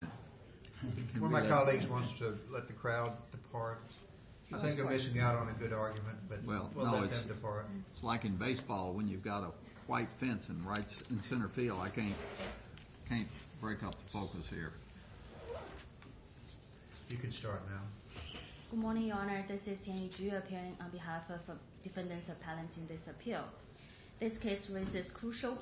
One of my colleagues wants to let the crowd depart. I think I'm missing out on a good argument, but we'll let them depart. It's like in baseball when you've got a white fence in center field. I can't break up the focus here. You can start now. Good morning, Your Honor. This is Tianyi Zhu appearing on behalf of defendants appellants in this appeal. This case raises crucial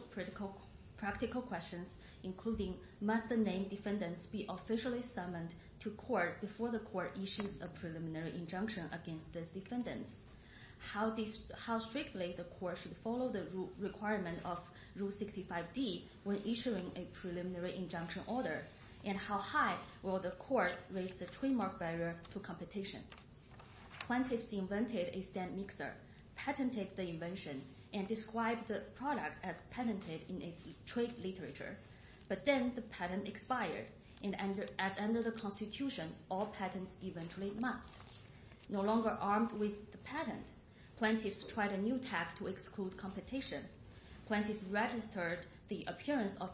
practical questions, including must the named defendants be officially summoned to court before the court issues a preliminary injunction against these defendants? How strictly the court should follow the requirement of Rule 65d when issuing a preliminary injunction order? And how high will the court raise the trademark barrier to competition? Plaintiffs invented a stand mixer, patented the invention, and described the product as patented in its trade literature. But then the patent expired, and as under the Constitution, all patents eventually must. No longer armed with the patent, plaintiffs tried a new tack to exclude competition. Plaintiffs registered the appearance of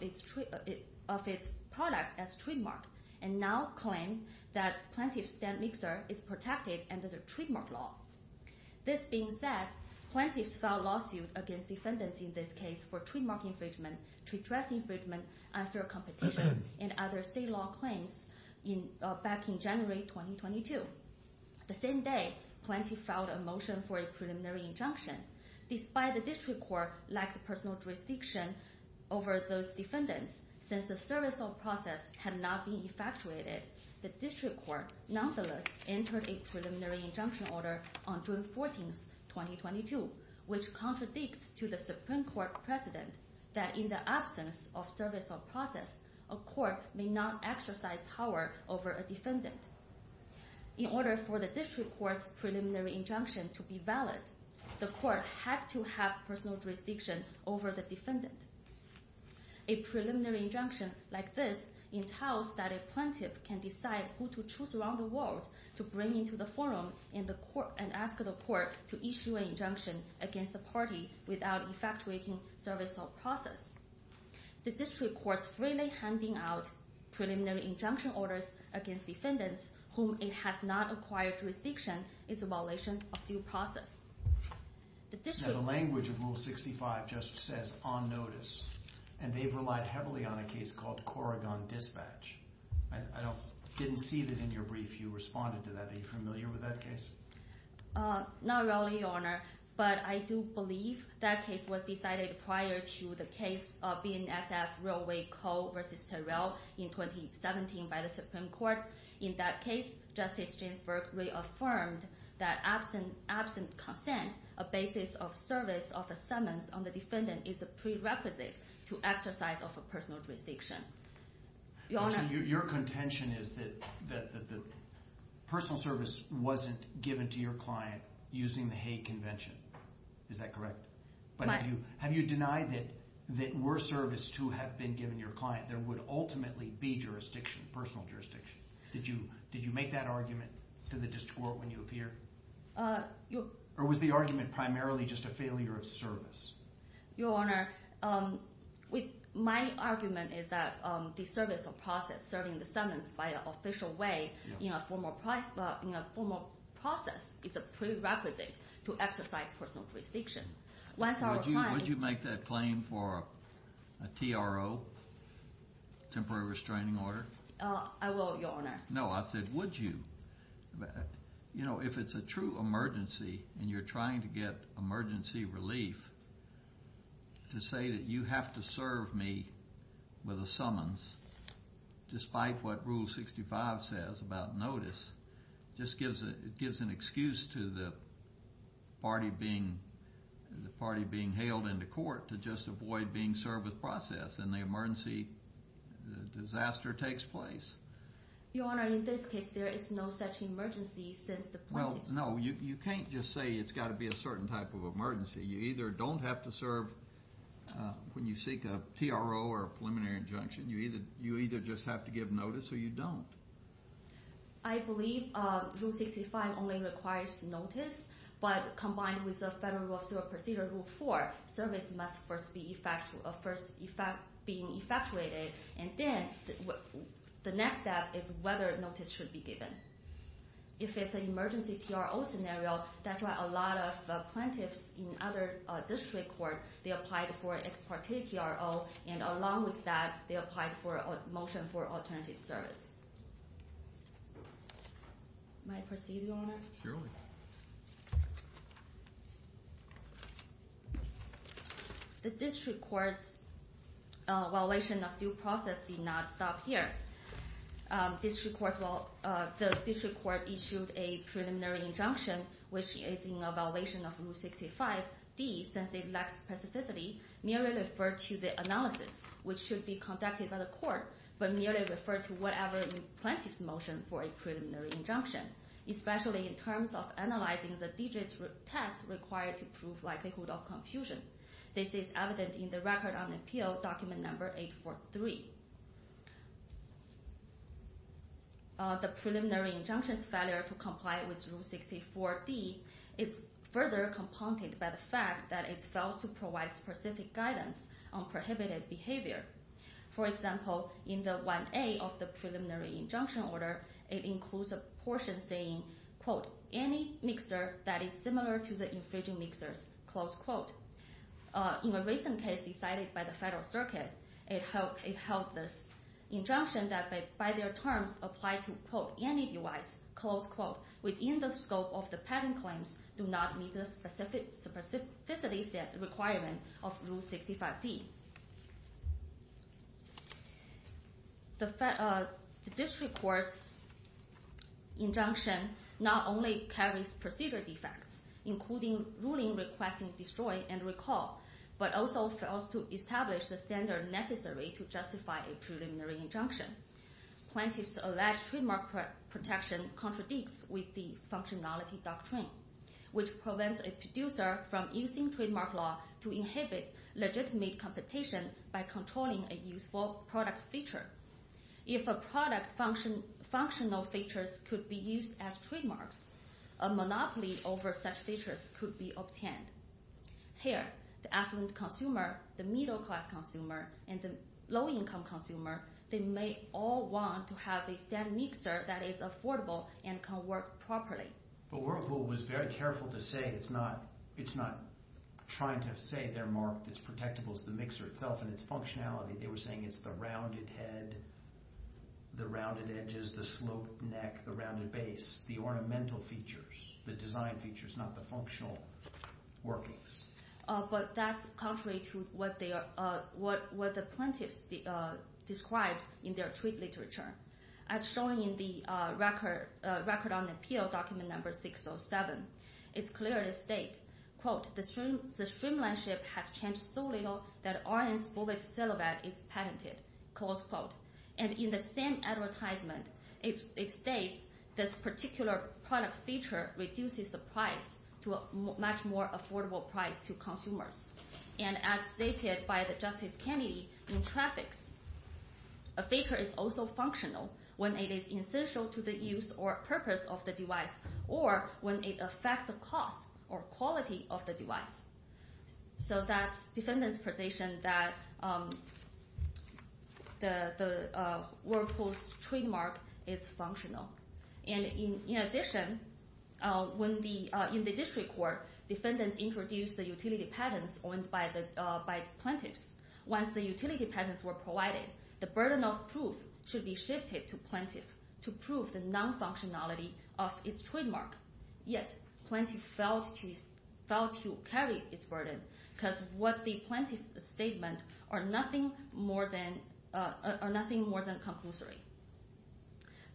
its product as trademark, and now claim that plaintiff's stand mixer is protected under the trademark law. This being said, plaintiffs filed lawsuits against defendants in this case for trademark infringement, trade dress infringement, unfair competition, and other state law claims back in January 2022. The same day, plaintiffs filed a motion for a preliminary injunction. Despite the district court lack of personal jurisdiction over those defendants, since the service of process had not been effectuated, the district court nonetheless entered a preliminary injunction order on June 14, 2022, which contradicts to the Supreme Court precedent that in the absence of service of process, a court may not exercise power over a defendant. In order for the district court's preliminary injunction to be valid, the court had to have personal jurisdiction over the defendant. A preliminary injunction like this entails that a plaintiff can decide who to choose around the world to bring into the forum and ask the court to issue an injunction against the party without effectuating service of process. The district court's freely handing out preliminary injunction orders against defendants whom it has not acquired jurisdiction is a violation of due process. The language of Rule 65 just says, on notice, and they've relied heavily on a case called Corrigan Dispatch. I didn't see that in your brief you responded to that. Are you familiar with that case? Not really, Your Honor, but I do believe that case was decided prior to the case of BNSF Railway Co. v. Terrell in 2017 by the Supreme Court. In that case, Justice Ginsburg reaffirmed that absent consent, a basis of service of assentments on the defendant is a prerequisite to exercise of a personal jurisdiction. Your contention is that personal service wasn't given to your client using the Hague Convention. Is that correct? Have you denied that were service to have been given to your client, there would ultimately be jurisdiction, personal jurisdiction. Did you make that argument to the district court when you appeared? Or was the argument primarily just a failure of service? Your Honor, my argument is that the service of process serving the sentence by an official way in a formal process is a prerequisite to exercise personal jurisdiction. Would you make that claim for a TRO, Temporary Restraining Order? No, I said would you? You know, if it's a true emergency and you're trying to get emergency relief, to say that you have to serve me with a summons, despite what Rule 65 says about notice, just gives an excuse to the party being hailed into court to just avoid being served with process and the emergency disaster takes place. Your Honor, in this case, there is no such emergency. No, you can't just say it's got to be a certain type of emergency. You either don't have to serve when you seek a TRO or a preliminary injunction. You either just have to give notice or you don't. I believe Rule 65 only requires notice, but combined with the Federal Rule of Civil Procedure, Rule 4, service must first be effectuated and then the next step is whether notice should be given. If it's an emergency TRO scenario, that's why a lot of plaintiffs in other district courts, they applied for an ex parte TRO and along with that, they applied for a motion for alternative service. May I proceed, Your Honor? Surely. The district court's evaluation of due process did not stop here. The district court issued a preliminary injunction, which is in a violation of Rule 65D, since it lacks specificity, merely referred to the analysis, which should be conducted by the court, but merely referred to whatever the plaintiff's motion for a preliminary injunction, especially in terms of analyzing the DGS test required to prove likelihood of confusion. This is evident in the Record on Appeal, Document No. 843. The preliminary injunction's failure to comply with Rule 64D is further compounded by the fact that it fails to provide specific guidance on prohibited behavior. For example, in the 1A of the preliminary injunction order, it includes a portion saying, quote, any mixer that is similar to the infringing mixers, close quote. In a recent case decided by the Federal Circuit, it held this injunction that by their terms apply to, quote, any device, close quote, within the scope of the patent claims, do not meet the specificity requirement of Rule 65D. The district court's injunction not only carries procedure defects, including ruling requesting destroy and recall, but also fails to establish the standard necessary to justify a preliminary injunction. Plaintiff's alleged trademark protection contradicts with the functionality doctrine, which prevents a producer from using trademark law to inhibit legitimate competition by controlling a useful product feature. If a product's functional features could be used as trademarks, a monopoly over such features could be obtained. Here, the affluent consumer, the middle class consumer, and the low income consumer, they may all want to have a stand mixer that is affordable and can work properly. But Whirlpool was very careful to say it's not trying to say their mark that's protectable is the mixer itself and its functionality. They were saying it's the rounded head, the rounded edges, the sloped neck, the rounded base, the ornamental features, the design features, not the functional workings. But that's contrary to what the plaintiffs described in their treat literature. As shown in the record on appeal, document number 607, it's clear to state, quote, And in the same advertisement, it states this particular product feature reduces the price to a much more affordable price to consumers. And as stated by the Justice Kennedy, in traffics, a feature is also functional when it is essential to the use or purpose of the device or when it affects the cost or quality of the device. So that's defendant's position that the Whirlpool's trademark is functional. And in addition, in the district court, defendants introduced the utility patents owned by the plaintiffs. Once the utility patents were provided, the burden of proof should be shifted to plaintiff to prove the non-functionality of its trademark. Yet plaintiff failed to carry its burden because what the plaintiff's statement are nothing more than conclusory.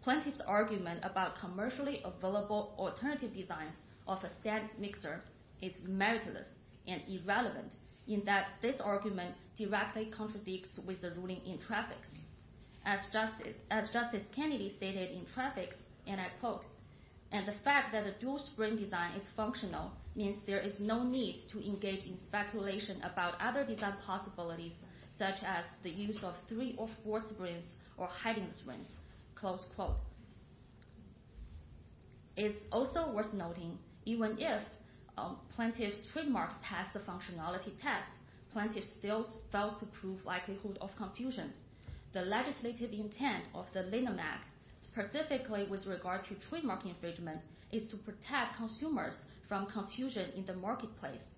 Plaintiff's argument about commercially available alternative designs of a static mixer is meritless and irrelevant in that this argument directly contradicts with the ruling in traffics. As Justice Kennedy stated in traffics, and I quote, And the fact that a dual-spring design is functional means there is no need to engage in speculation about other design possibilities such as the use of three or four springs or hiding springs. Close quote. It's also worth noting, even if plaintiff's trademark passed the functionality test, plaintiff still fails to prove likelihood of confusion. The legislative intent of the LNMAC, specifically with regard to trademark infringement, is to protect consumers from confusion in the marketplace.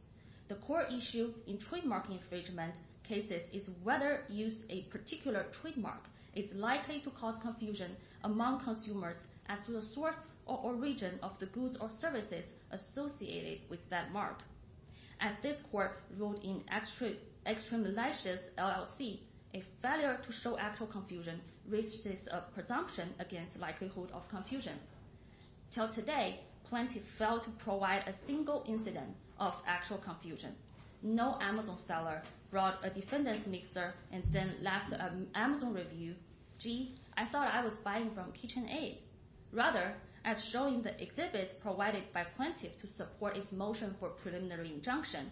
The core issue in trademark infringement cases is whether use of a particular trademark is likely to cause confusion among consumers as to the source or origin of the goods or services associated with that mark. As this court wrote in Extremely Luscious LLC, a failure to show actual confusion raises a presumption against likelihood of confusion. Till today, plaintiff failed to provide a single incident of actual confusion. No Amazon seller brought a defendant's mixer and then left an Amazon review. Gee, I thought I was buying from KitchenAid. Rather, as shown in the exhibits provided by plaintiff to support its motion for preliminary injunction,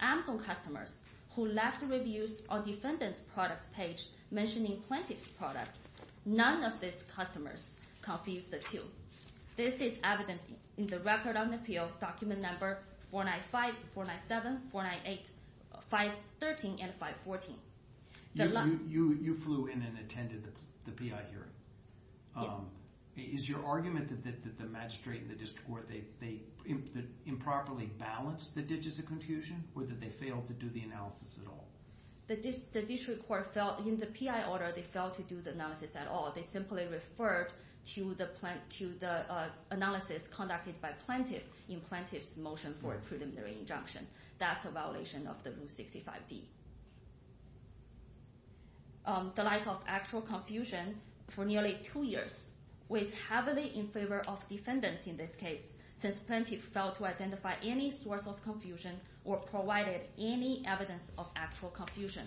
Amazon customers who left reviews on defendant's product page mentioning plaintiff's products, none of these customers confused the two. This is evident in the Record on Appeal document number 495, 497, 498, 513, and 514. You flew in and attended the PI hearing. Yes. Is your argument that the magistrate and the district court, they improperly balanced the digits of confusion or that they failed to do the analysis at all? The district court, in the PI order, they failed to do the analysis at all. They simply referred to the analysis conducted by plaintiff in plaintiff's motion for a preliminary injunction. That's a violation of the Rule 65D. The lack of actual confusion for nearly two years weighs heavily in favor of defendants in this case, since plaintiff failed to identify any source of confusion or provided any evidence of actual confusion.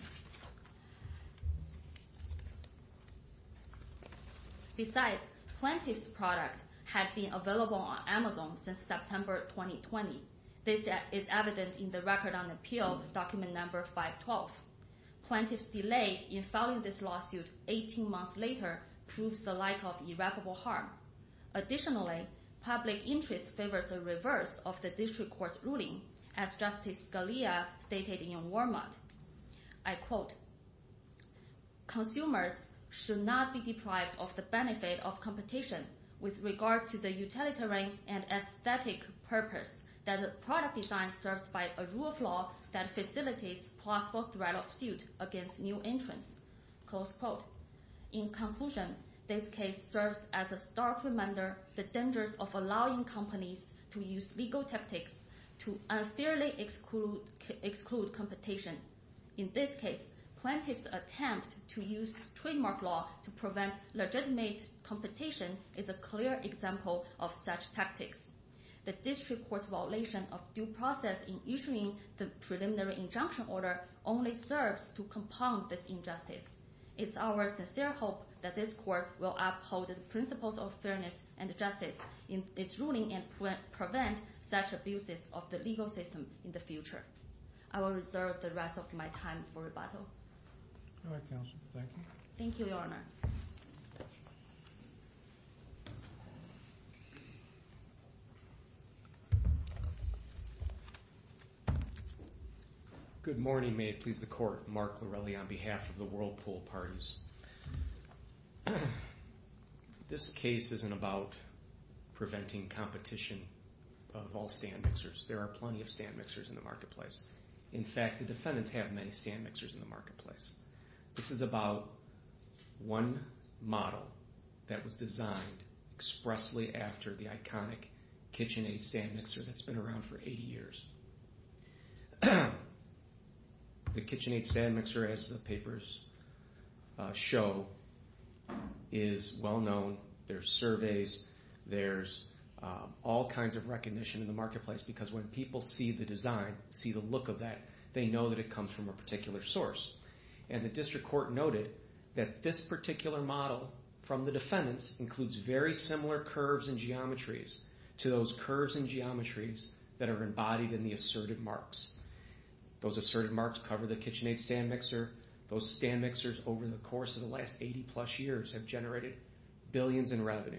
Besides, plaintiff's product had been available on Amazon since September 2020. This is evident in the Record on Appeal document number 512. Plaintiff's delay in filing this lawsuit 18 months later proves the lack of irreparable harm. Additionally, public interest favors a reverse of the district court's ruling, as Justice Scalia stated in Walmart. I quote, Close quote. In this case, plaintiff's attempt to use trademark law to prevent legitimate competition is a clear example of such tactics. The district court's violation of due process in issuing the preliminary injunction order only serves to compound this injustice. It's our sincere hope that this court will uphold the principles of fairness and justice in this ruling and prevent such abuses of the legal system in the future. I will reserve the rest of my time for rebuttal. All right, Counsel. Thank you. Thank you, Your Honor. Good morning. May it please the Court. Mark Larelli on behalf of the Whirlpool Parties. This case isn't about preventing competition of all stand mixers. There are plenty of stand mixers in the marketplace. In fact, the defendants have many stand mixers in the marketplace. This is about one model that was designed expressly after the iconic KitchenAid stand mixer that's been around for 80 years. The KitchenAid stand mixer, as the papers show, is well-known. There are surveys. There's all kinds of recognition in the marketplace because when people see the design, see the look of that, they know that it comes from a particular source. And the district court noted that this particular model from the defendants includes very similar curves and geometries to those curves and geometries that are embodied in the asserted marks. Those asserted marks cover the KitchenAid stand mixer. Those stand mixers, over the course of the last 80-plus years, have generated billions in revenue.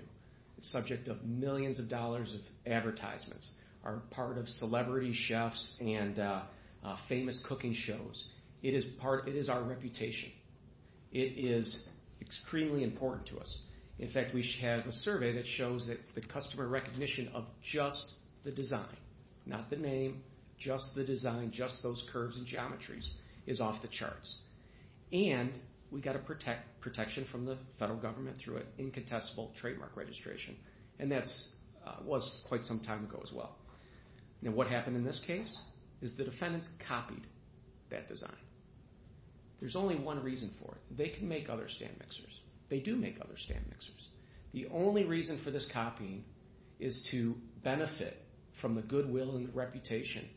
It's subject of millions of dollars of advertisements, are part of celebrity chefs and famous cooking shows. It is our reputation. It is extremely important to us. In fact, we have a survey that shows that the customer recognition of just the design, not the name, just the design, just those curves and geometries, is off the charts. And we got a protection from the federal government through an incontestable trademark registration, and that was quite some time ago as well. Now what happened in this case is the defendants copied that design. There's only one reason for it. They can make other stand mixers. They do make other stand mixers. The only reason for this copying is to benefit from the goodwill and reputation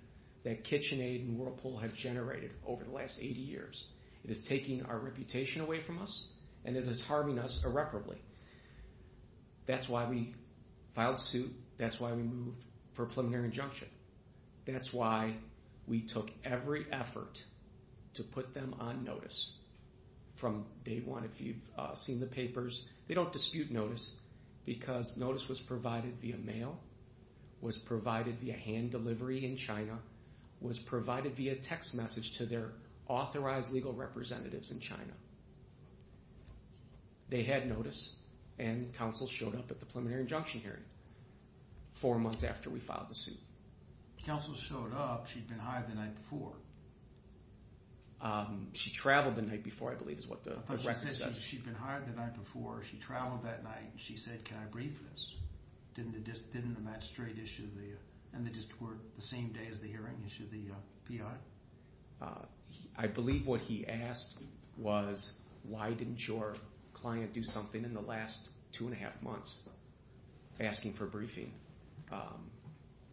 that KitchenAid and Whirlpool have generated over the last 80 years. It is taking our reputation away from us, and it is harming us irreparably. That's why we filed suit. That's why we moved for a preliminary injunction. That's why we took every effort to put them on notice from day one. If you've seen the papers, they don't dispute notice because notice was provided via mail, was provided via hand delivery in China, was provided via text message to their authorized legal representatives in China. They had notice, and counsel showed up at the preliminary injunction hearing four months after we filed the suit. Counsel showed up. She'd been hired the night before. She traveled the night before, I believe is what the record says. She'd been hired the night before. She traveled that night. She said, can I brief this? Didn't the magistrate issue the district court the same day as the hearing issued the PR? I believe what he asked was, why didn't your client do something in the last two and a half months asking for briefing?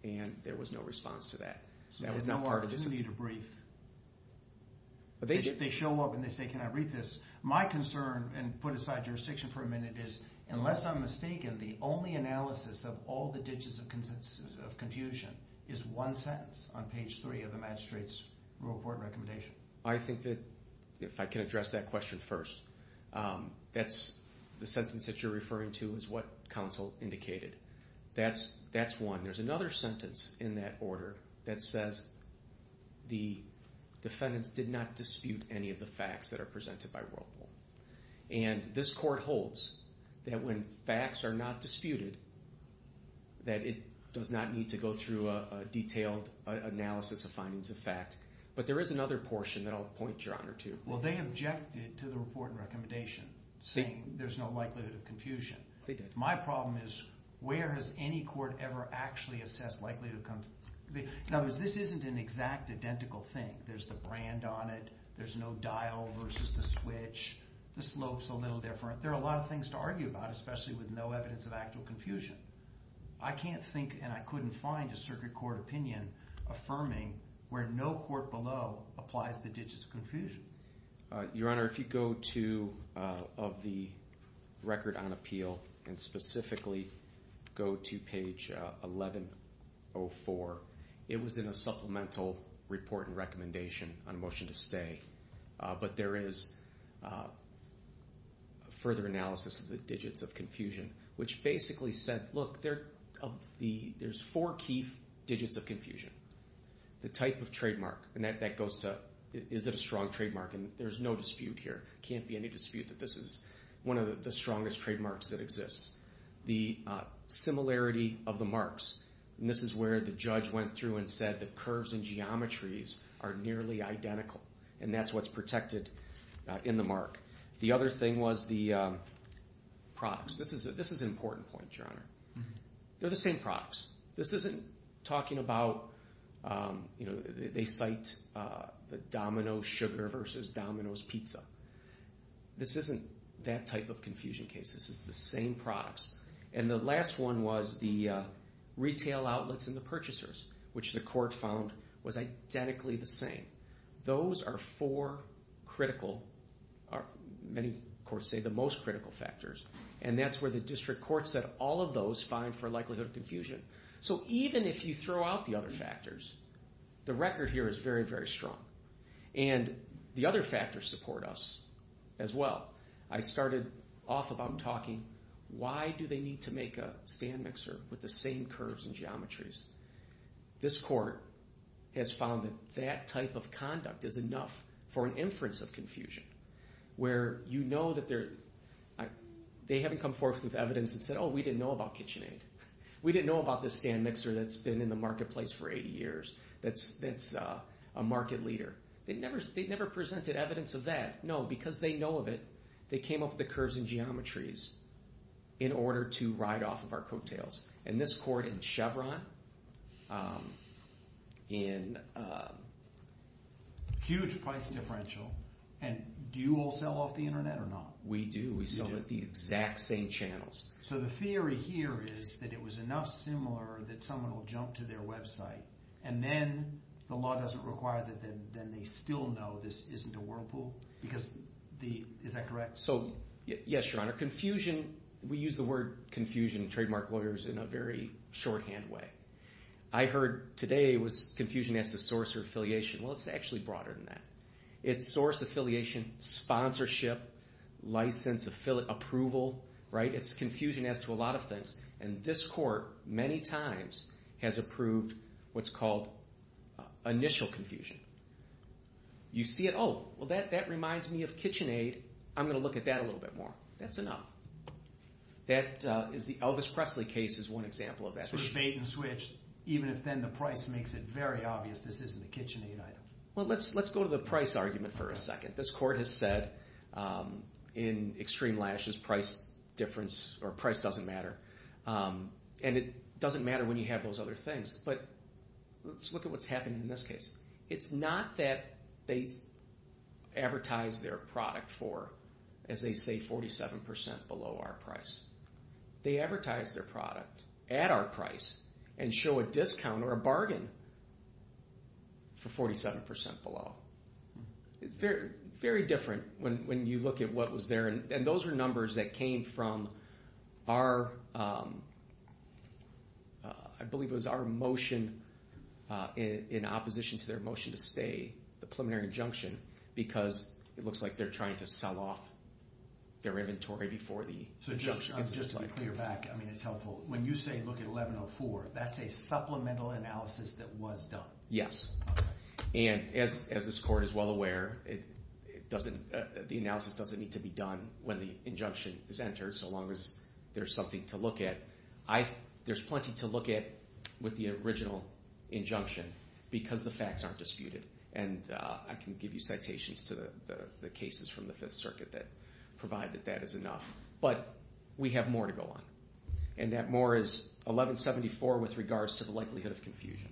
And there was no response to that. There was no opportunity to brief. They show up, and they say, can I brief this? My concern, and put aside jurisdiction for a minute, is unless I'm mistaken, the only analysis of all the digits of confusion is one sentence on page three of the magistrate's rule of court recommendation. I think that if I can address that question first, that's the sentence that you're referring to is what counsel indicated. That's one. There's another sentence in that order that says the defendants did not dispute any of the facts that are presented by rule of court. And this court holds that when facts are not disputed, that it does not need to go through a detailed analysis of findings of fact. But there is another portion that I'll point your honor to. Well, they objected to the report and recommendation saying there's no likelihood of confusion. They did. My problem is where has any court ever actually assessed likelihood of confusion? In other words, this isn't an exact identical thing. There's the brand on it. There's no dial versus the switch. The slope's a little different. There are a lot of things to argue about, especially with no evidence of actual confusion. I can't think and I couldn't find a circuit court opinion affirming where no court below applies the digits of confusion. Your honor, if you go to the record on appeal and specifically go to page 1104, it was in a supplemental report and recommendation on motion to stay. But there is further analysis of the digits of confusion, which basically said, look, there's four key digits of confusion. The type of trademark, and that goes to, is it a strong trademark? And there's no dispute here. Can't be any dispute that this is one of the strongest trademarks that exists. The similarity of the marks, and this is where the judge went through and said that curves and geometries are nearly identical. And that's what's protected in the mark. The other thing was the products. This is an important point, your honor. They're the same products. This isn't talking about, you know, they cite the Domino's sugar versus Domino's pizza. This isn't that type of confusion case. This is the same products. And the last one was the retail outlets and the purchasers, which the court found was identically the same. Those are four critical, many courts say the most critical factors. And that's where the district court said all of those find for likelihood of confusion. So even if you throw out the other factors, the record here is very, very strong. And the other factors support us as well. I started off about talking, why do they need to make a stand mixer with the same curves and geometries? This court has found that that type of conduct is enough for an inference of confusion. Where you know that they haven't come forth with evidence and said, oh, we didn't know about KitchenAid. We didn't know about this stand mixer that's been in the marketplace for 80 years, that's a market leader. They never presented evidence of that. No, because they know of it, they came up with the curves and geometries in order to ride off of our coattails. And this court in Chevron, in huge price differential. And do you all sell off the internet or not? We do, we sell at the exact same channels. So the theory here is that it was enough similar that someone will jump to their website. And then the law doesn't require that then they still know this isn't a whirlpool? Because the, is that correct? So yes, Your Honor, confusion, we use the word confusion, trademark lawyers, in a very shorthand way. I heard today it was confusion as to source or affiliation. Well, it's actually broader than that. It's source, affiliation, sponsorship, license, approval, right? It's confusion as to a lot of things. And this court many times has approved what's called initial confusion. You see it, oh, well that reminds me of KitchenAid. I'm going to look at that a little bit more. That's enough. That is the Elvis Presley case is one example of that. Sort of bait and switch, even if then the price makes it very obvious this isn't a KitchenAid item. Well, let's go to the price argument for a second. This court has said in extreme lashes price difference, or price doesn't matter. And it doesn't matter when you have those other things. But let's look at what's happening in this case. It's not that they advertise their product for, as they say, 47% below our price. They advertise their product at our price and show a discount or a bargain for 47% below. Very different when you look at what was there. And those were numbers that came from our, I believe it was our motion in opposition to their motion to stay, the preliminary injunction, because it looks like they're trying to sell off their inventory before the injunction gets applied. So just to be clear back, I mean it's helpful. When you say look at 1104, that's a supplemental analysis that was done. Yes. And as this court is well aware, the analysis doesn't need to be done when the injunction is entered so long as there's something to look at. There's plenty to look at with the original injunction because the facts aren't disputed. And I can give you citations to the cases from the Fifth Circuit that provide that that is enough. But we have more to go on. And that more is 1174 with regards to the likelihood of confusion.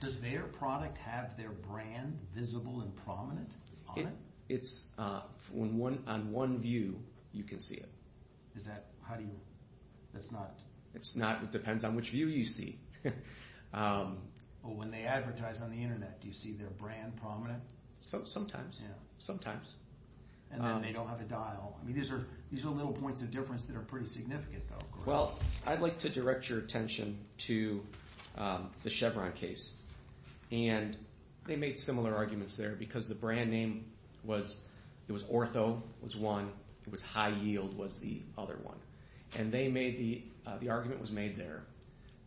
Does their product have their brand visible and prominent on it? It's on one view you can see it. Is that, how do you, that's not? It's not, it depends on which view you see. But when they advertise on the Internet, do you see their brand prominent? Sometimes, sometimes. And then they don't have a dial. I mean these are little points of difference that are pretty significant though. Well, I'd like to direct your attention to the Chevron case. And they made similar arguments there because the brand name was, it was Ortho was one. It was High Yield was the other one. And they made the, the argument was made there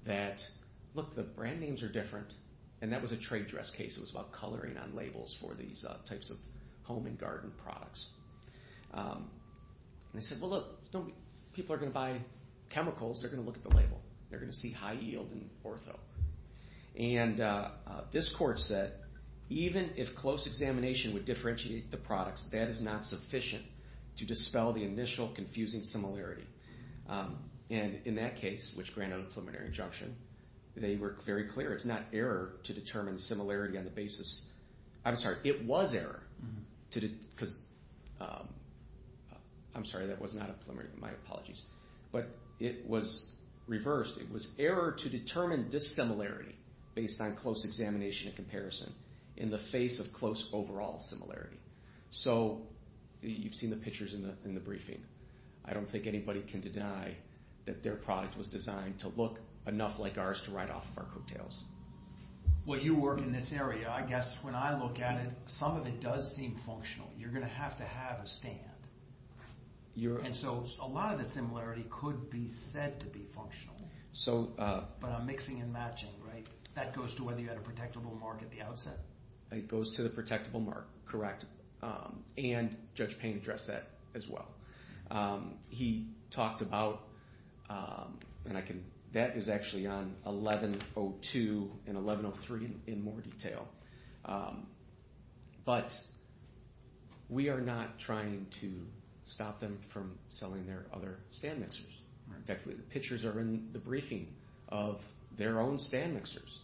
that, look, the brand names are different. And that was a trade dress case. It was about coloring on labels for these types of home and garden products. And they said, well look, people are going to buy chemicals, they're going to look at the label. They're going to see High Yield and Ortho. And this court said, even if close examination would differentiate the products, that is not sufficient to dispel the initial confusing similarity. And in that case, which granted a preliminary injunction, they were very clear. It's not error to determine similarity on the basis, I'm sorry, it was error. Because, I'm sorry, that was not a preliminary, my apologies. But it was reversed. It was error to determine dissimilarity based on close examination and comparison in the face of close overall similarity. So you've seen the pictures in the briefing. I don't think anybody can deny that their product was designed to look enough like ours to ride off of our coattails. Well, you work in this area. I guess when I look at it, some of it does seem functional. You're going to have to have a stand. And so a lot of the similarity could be said to be functional. But I'm mixing and matching, right? That goes to whether you had a protectable mark at the outset? It goes to the protectable mark, correct. And Judge Payne addressed that as well. He talked about, and I can, that is actually on 11.02 and 11.03 in more detail. But we are not trying to stop them from selling their other stand mixers. In fact, the pictures are in the briefing of their own stand mixers.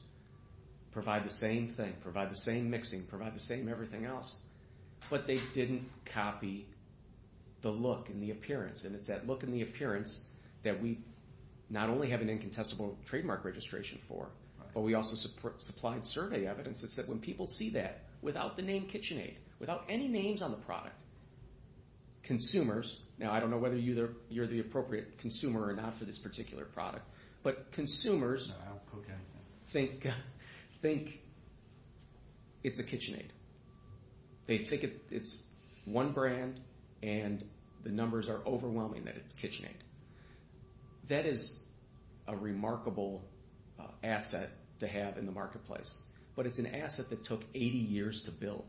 Provide the same thing, provide the same mixing, provide the same everything else. But they didn't copy the look and the appearance. And it's that look and the appearance that we not only have an incontestable trademark registration for, but we also supplied survey evidence that said when people see that, without the name KitchenAid, without any names on the product, consumers, now I don't know whether you're the appropriate consumer or not for this particular product, but consumers think it's a KitchenAid. They think it's one brand and the numbers are overwhelming that it's KitchenAid. That is a remarkable asset to have in the marketplace. But it's an asset that took 80 years to build.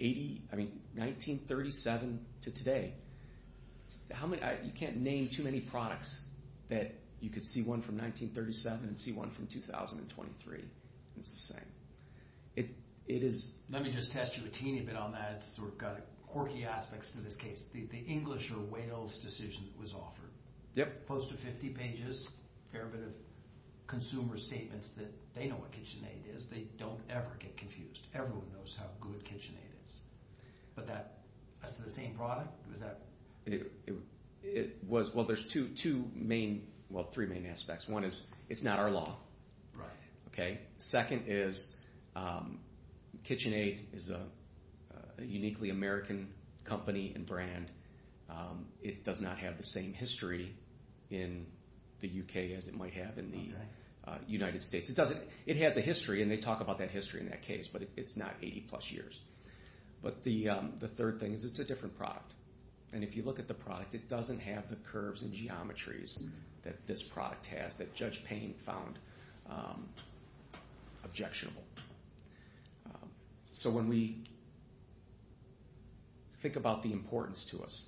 I mean, 1937 to today. You can't name too many products that you could see one from 1937 and see one from 2023. It's the same. Let me just test you a teeny bit on that. It's got quirky aspects to this case. The English or Wales decision that was offered. Close to 50 pages, a fair bit of consumer statements that they know what KitchenAid is. They don't ever get confused. Everyone knows how good KitchenAid is. But that's the same product? Well, there's two main, well, three main aspects. One is it's not our law. Second is KitchenAid is a uniquely American company and brand. It does not have the same history in the U.K. as it might have in the United States. It has a history, and they talk about that history in that case, but it's not 80-plus years. But the third thing is it's a different product. And if you look at the product, it doesn't have the curves and geometries that this product has, that Judge Payne found objectionable. So when we think about the importance to us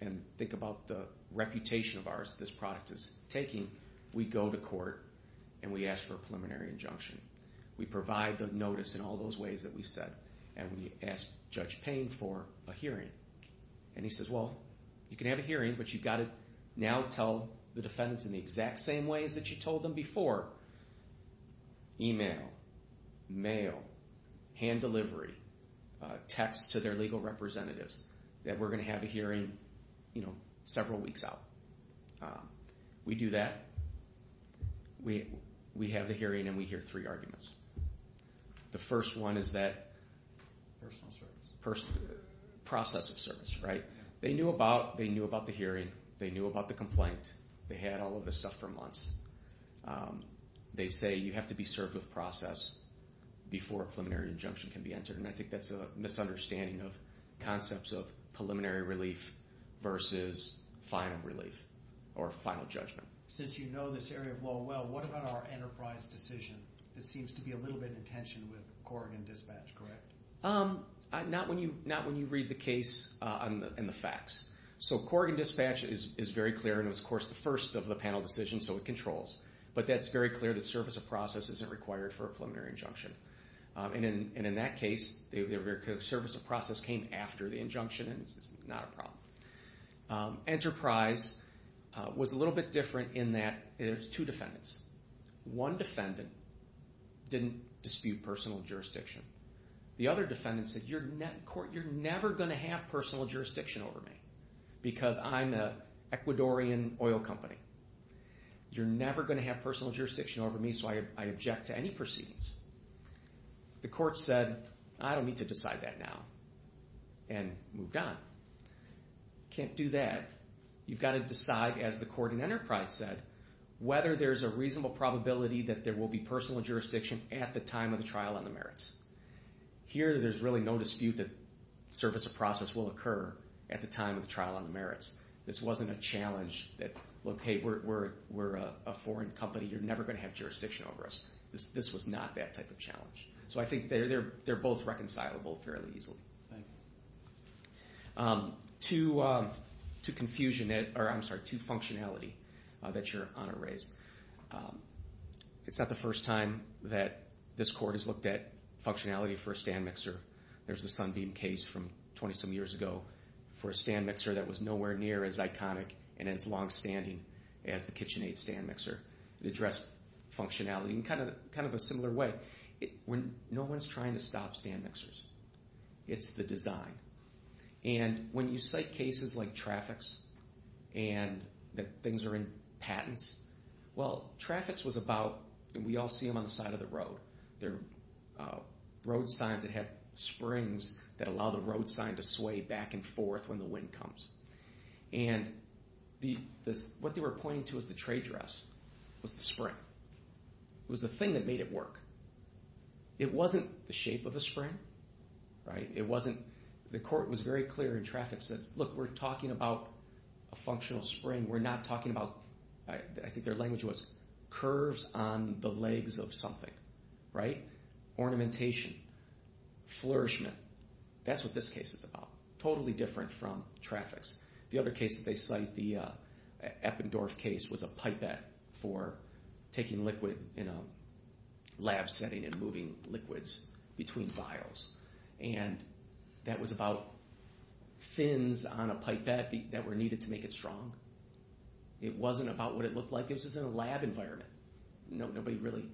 and think about the reputation of ours this product is taking, we go to court and we ask for a preliminary injunction. We provide the notice in all those ways that we've said, and we ask Judge Payne for a hearing. And he says, well, you can have a hearing, but you've got to now tell the defendants in the exact same ways that you told them before, email, mail, hand delivery, text to their legal representatives, that we're going to have a hearing, you know, several weeks out. We do that. We have the hearing, and we hear three arguments. The first one is that process of service, right? They knew about the hearing. They knew about the complaint. They had all of this stuff for months. They say you have to be served with process before a preliminary injunction can be entered, and I think that's a misunderstanding of concepts of preliminary relief versus final relief or final judgment. Since you know this area of law well, what about our enterprise decision that seems to be a little bit in tension with Corrigan Dispatch, correct? Not when you read the case and the facts. So Corrigan Dispatch is very clear, and it was, of course, the first of the panel decisions, so it controls. But that's very clear that service of process isn't required for a preliminary injunction. And in that case, the service of process came after the injunction, and it's not a problem. Enterprise was a little bit different in that there's two defendants. One defendant didn't dispute personal jurisdiction. The other defendant said, you're never going to have personal jurisdiction over me because I'm an Ecuadorian oil company. You're never going to have personal jurisdiction over me, so I object to any proceedings. The court said, I don't need to decide that now, and moved on. Can't do that. You've got to decide, as the court in Enterprise said, whether there's a reasonable probability that there will be personal jurisdiction at the time of the trial on the merits. Here, there's really no dispute that service of process will occur at the time of the trial on the merits. This wasn't a challenge that, look, hey, we're a foreign company. You're never going to have jurisdiction over us. This was not that type of challenge. So I think they're both reconcilable fairly easily. To confusion, or I'm sorry, to functionality that you're on a raise. It's not the first time that this court has looked at functionality for a stand mixer. There's a Sunbeam case from 20-some years ago for a stand mixer that was nowhere near as iconic and as longstanding as the KitchenAid stand mixer. It addressed functionality in kind of a similar way. No one's trying to stop stand mixers. It's the design. And when you cite cases like Trafix and that things are in patents, well, Trafix was about, and we all see them on the side of the road. They're road signs that have springs that allow the road sign to sway back and forth when the wind comes. And what they were pointing to as the trade dress was the spring. It was the thing that made it work. It wasn't the shape of a spring. It wasn't, the court was very clear in Trafix that, look, we're talking about a functional spring. We're not talking about, I think their language was curves on the legs of something, right? Ornamentation, flourishment, that's what this case is about. Totally different from Trafix. The other case that they cite, the Eppendorf case, was a pipette for taking liquid in a lab setting and moving liquids between vials. And that was about fins on a pipette that were needed to make it strong. It wasn't about what it looked like. This was in a lab environment. Nobody really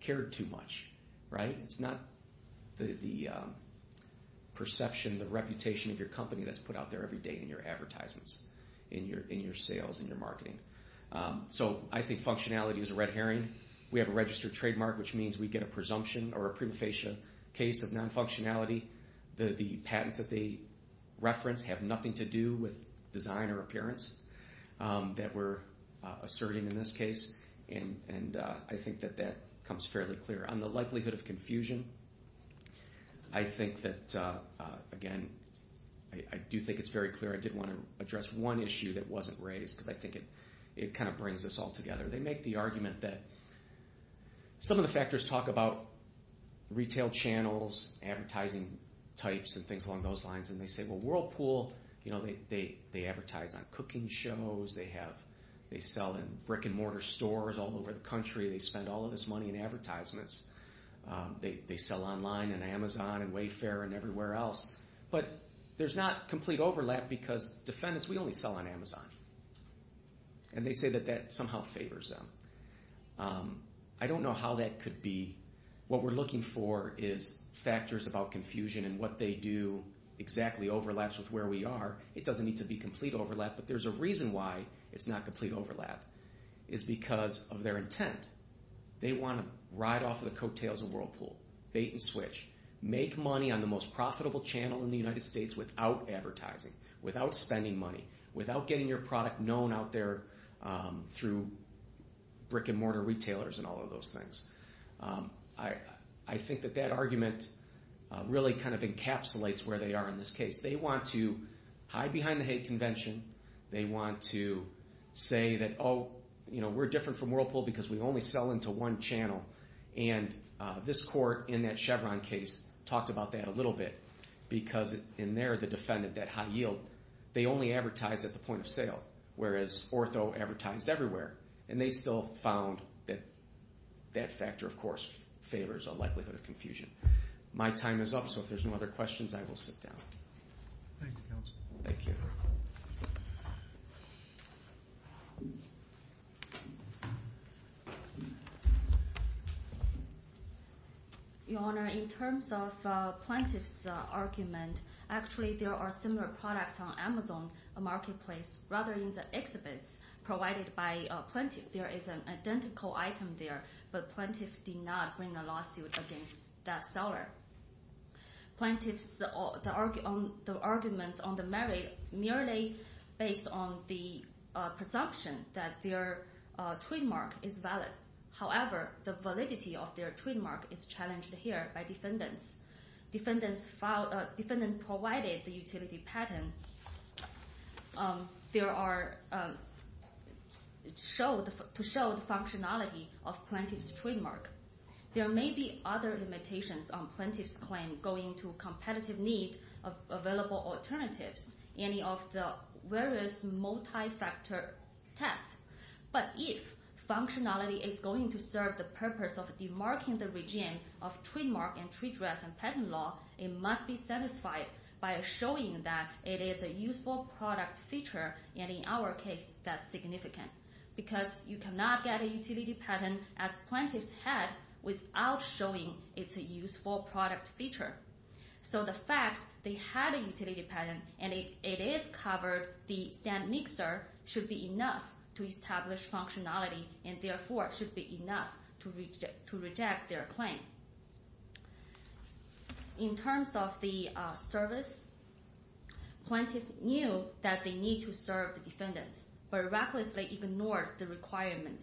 cared too much, right? It's not the perception, the reputation of your company that's put out there every day in your advertisements, in your sales, in your marketing. So I think functionality is a red herring. We have a registered trademark, which means we get a presumption or a prima facie case of non-functionality. The patents that they reference have nothing to do with design or appearance that we're asserting in this case. And I think that that comes fairly clear. On the likelihood of confusion, I think that, again, I do think it's very clear. I did want to address one issue that wasn't raised because I think it kind of brings us all together. They make the argument that some of the factors talk about retail channels, advertising types, and things along those lines. And they say, well, Whirlpool, they advertise on cooking shows. They sell in brick-and-mortar stores all over the country. They spend all of this money in advertisements. They sell online and Amazon and Wayfair and everywhere else. But there's not complete overlap because defendants, we only sell on Amazon. And they say that that somehow favors them. I don't know how that could be. What we're looking for is factors about confusion and what they do exactly overlaps with where we are. It doesn't need to be complete overlap, but there's a reason why it's not complete overlap is because of their intent. They want to ride off of the coattails of Whirlpool, bait and switch, make money on the most profitable channel in the United States without advertising, without spending money, without getting your product known out there through brick-and-mortar retailers and all of those things. I think that that argument really kind of encapsulates where they are in this case. They want to hide behind the hate convention. They want to say that, oh, we're different from Whirlpool because we only sell into one channel. And this court in that Chevron case talked about that a little bit because in there, the defendant, that high yield, they only advertise at the point of sale, whereas Ortho advertised everywhere. And they still found that that factor, of course, favors a likelihood of confusion. My time is up, so if there's no other questions, I will sit down. Thank you, counsel. Thank you. Your Honor, in terms of plaintiff's argument, actually there are similar products on Amazon Marketplace rather than the exhibits provided by plaintiff. There is an identical item there, but plaintiff did not bring a lawsuit against that seller. Plaintiff's arguments on the merit merely based on the presumption that their trademark is valid. However, the validity of their trademark is challenged here by defendants. Defendants provided the utility patent to show the functionality of plaintiff's trademark. There may be other limitations on plaintiff's claim going to competitive need of available alternatives, any of the various multi-factor tests. But if functionality is going to serve the purpose of demarking the regime of trademark and trade dress and patent law, it must be satisfied by showing that it is a useful product feature, and in our case, that's significant. Because you cannot get a utility patent, as plaintiff's had, without showing it's a useful product feature. So the fact they had a utility patent, and it is covered, the stand mixer should be enough to establish functionality, and therefore should be enough to reject their claim. In terms of the service, plaintiff knew that they need to serve the defendants, but recklessly ignored the requirement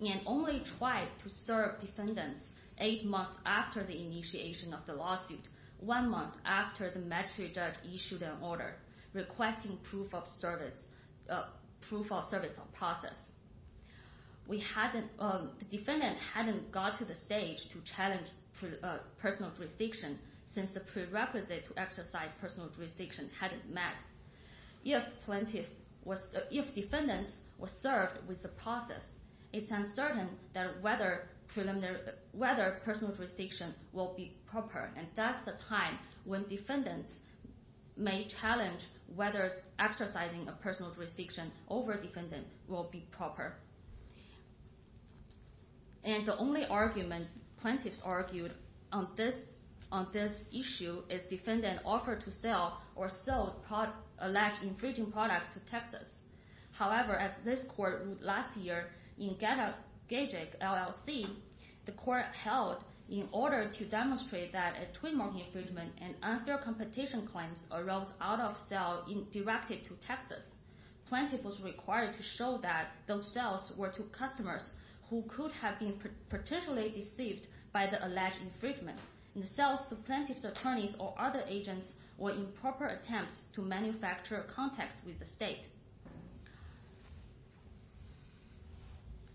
and only tried to serve defendants eight months after the initiation of the lawsuit, one month after the magistrate judge issued an order requesting proof of service of process. The defendant hadn't got to the stage to challenge personal jurisdiction since the prerequisite to exercise personal jurisdiction hadn't met. If defendants were served with the process, it's uncertain whether personal jurisdiction will be proper, and that's the time when defendants may challenge whether exercising a personal jurisdiction over defendant will be proper. And the only argument plaintiffs argued on this issue is defendant offered to sell or sold alleged infringing products to Texas. However, at this court last year in Gagic, LLC, the court held in order to demonstrate that a trademark infringement and unfair competition claims arose out of sale directed to Texas, plaintiff was required to show that those sales were to customers who could have been potentially deceived by the alleged infringement, and the sales to plaintiff's attorneys or other agents were improper attempts to manufacture contacts with the state.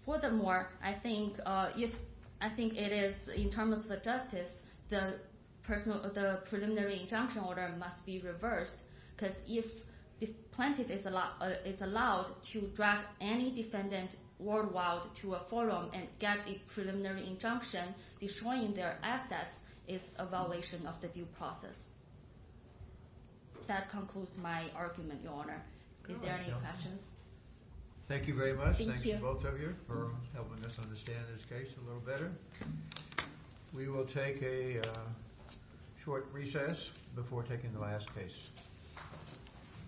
Furthermore, I think in terms of justice, the preliminary injunction order must be reversed, because if the plaintiff is allowed to drag any defendant worldwide to a forum and get a preliminary injunction, destroying their assets is a violation of the due process. That concludes my argument, Your Honor. Is there any questions? Thank you very much. Thank you, both of you, for helping us understand this case a little better. We will take a short recess before taking the last case.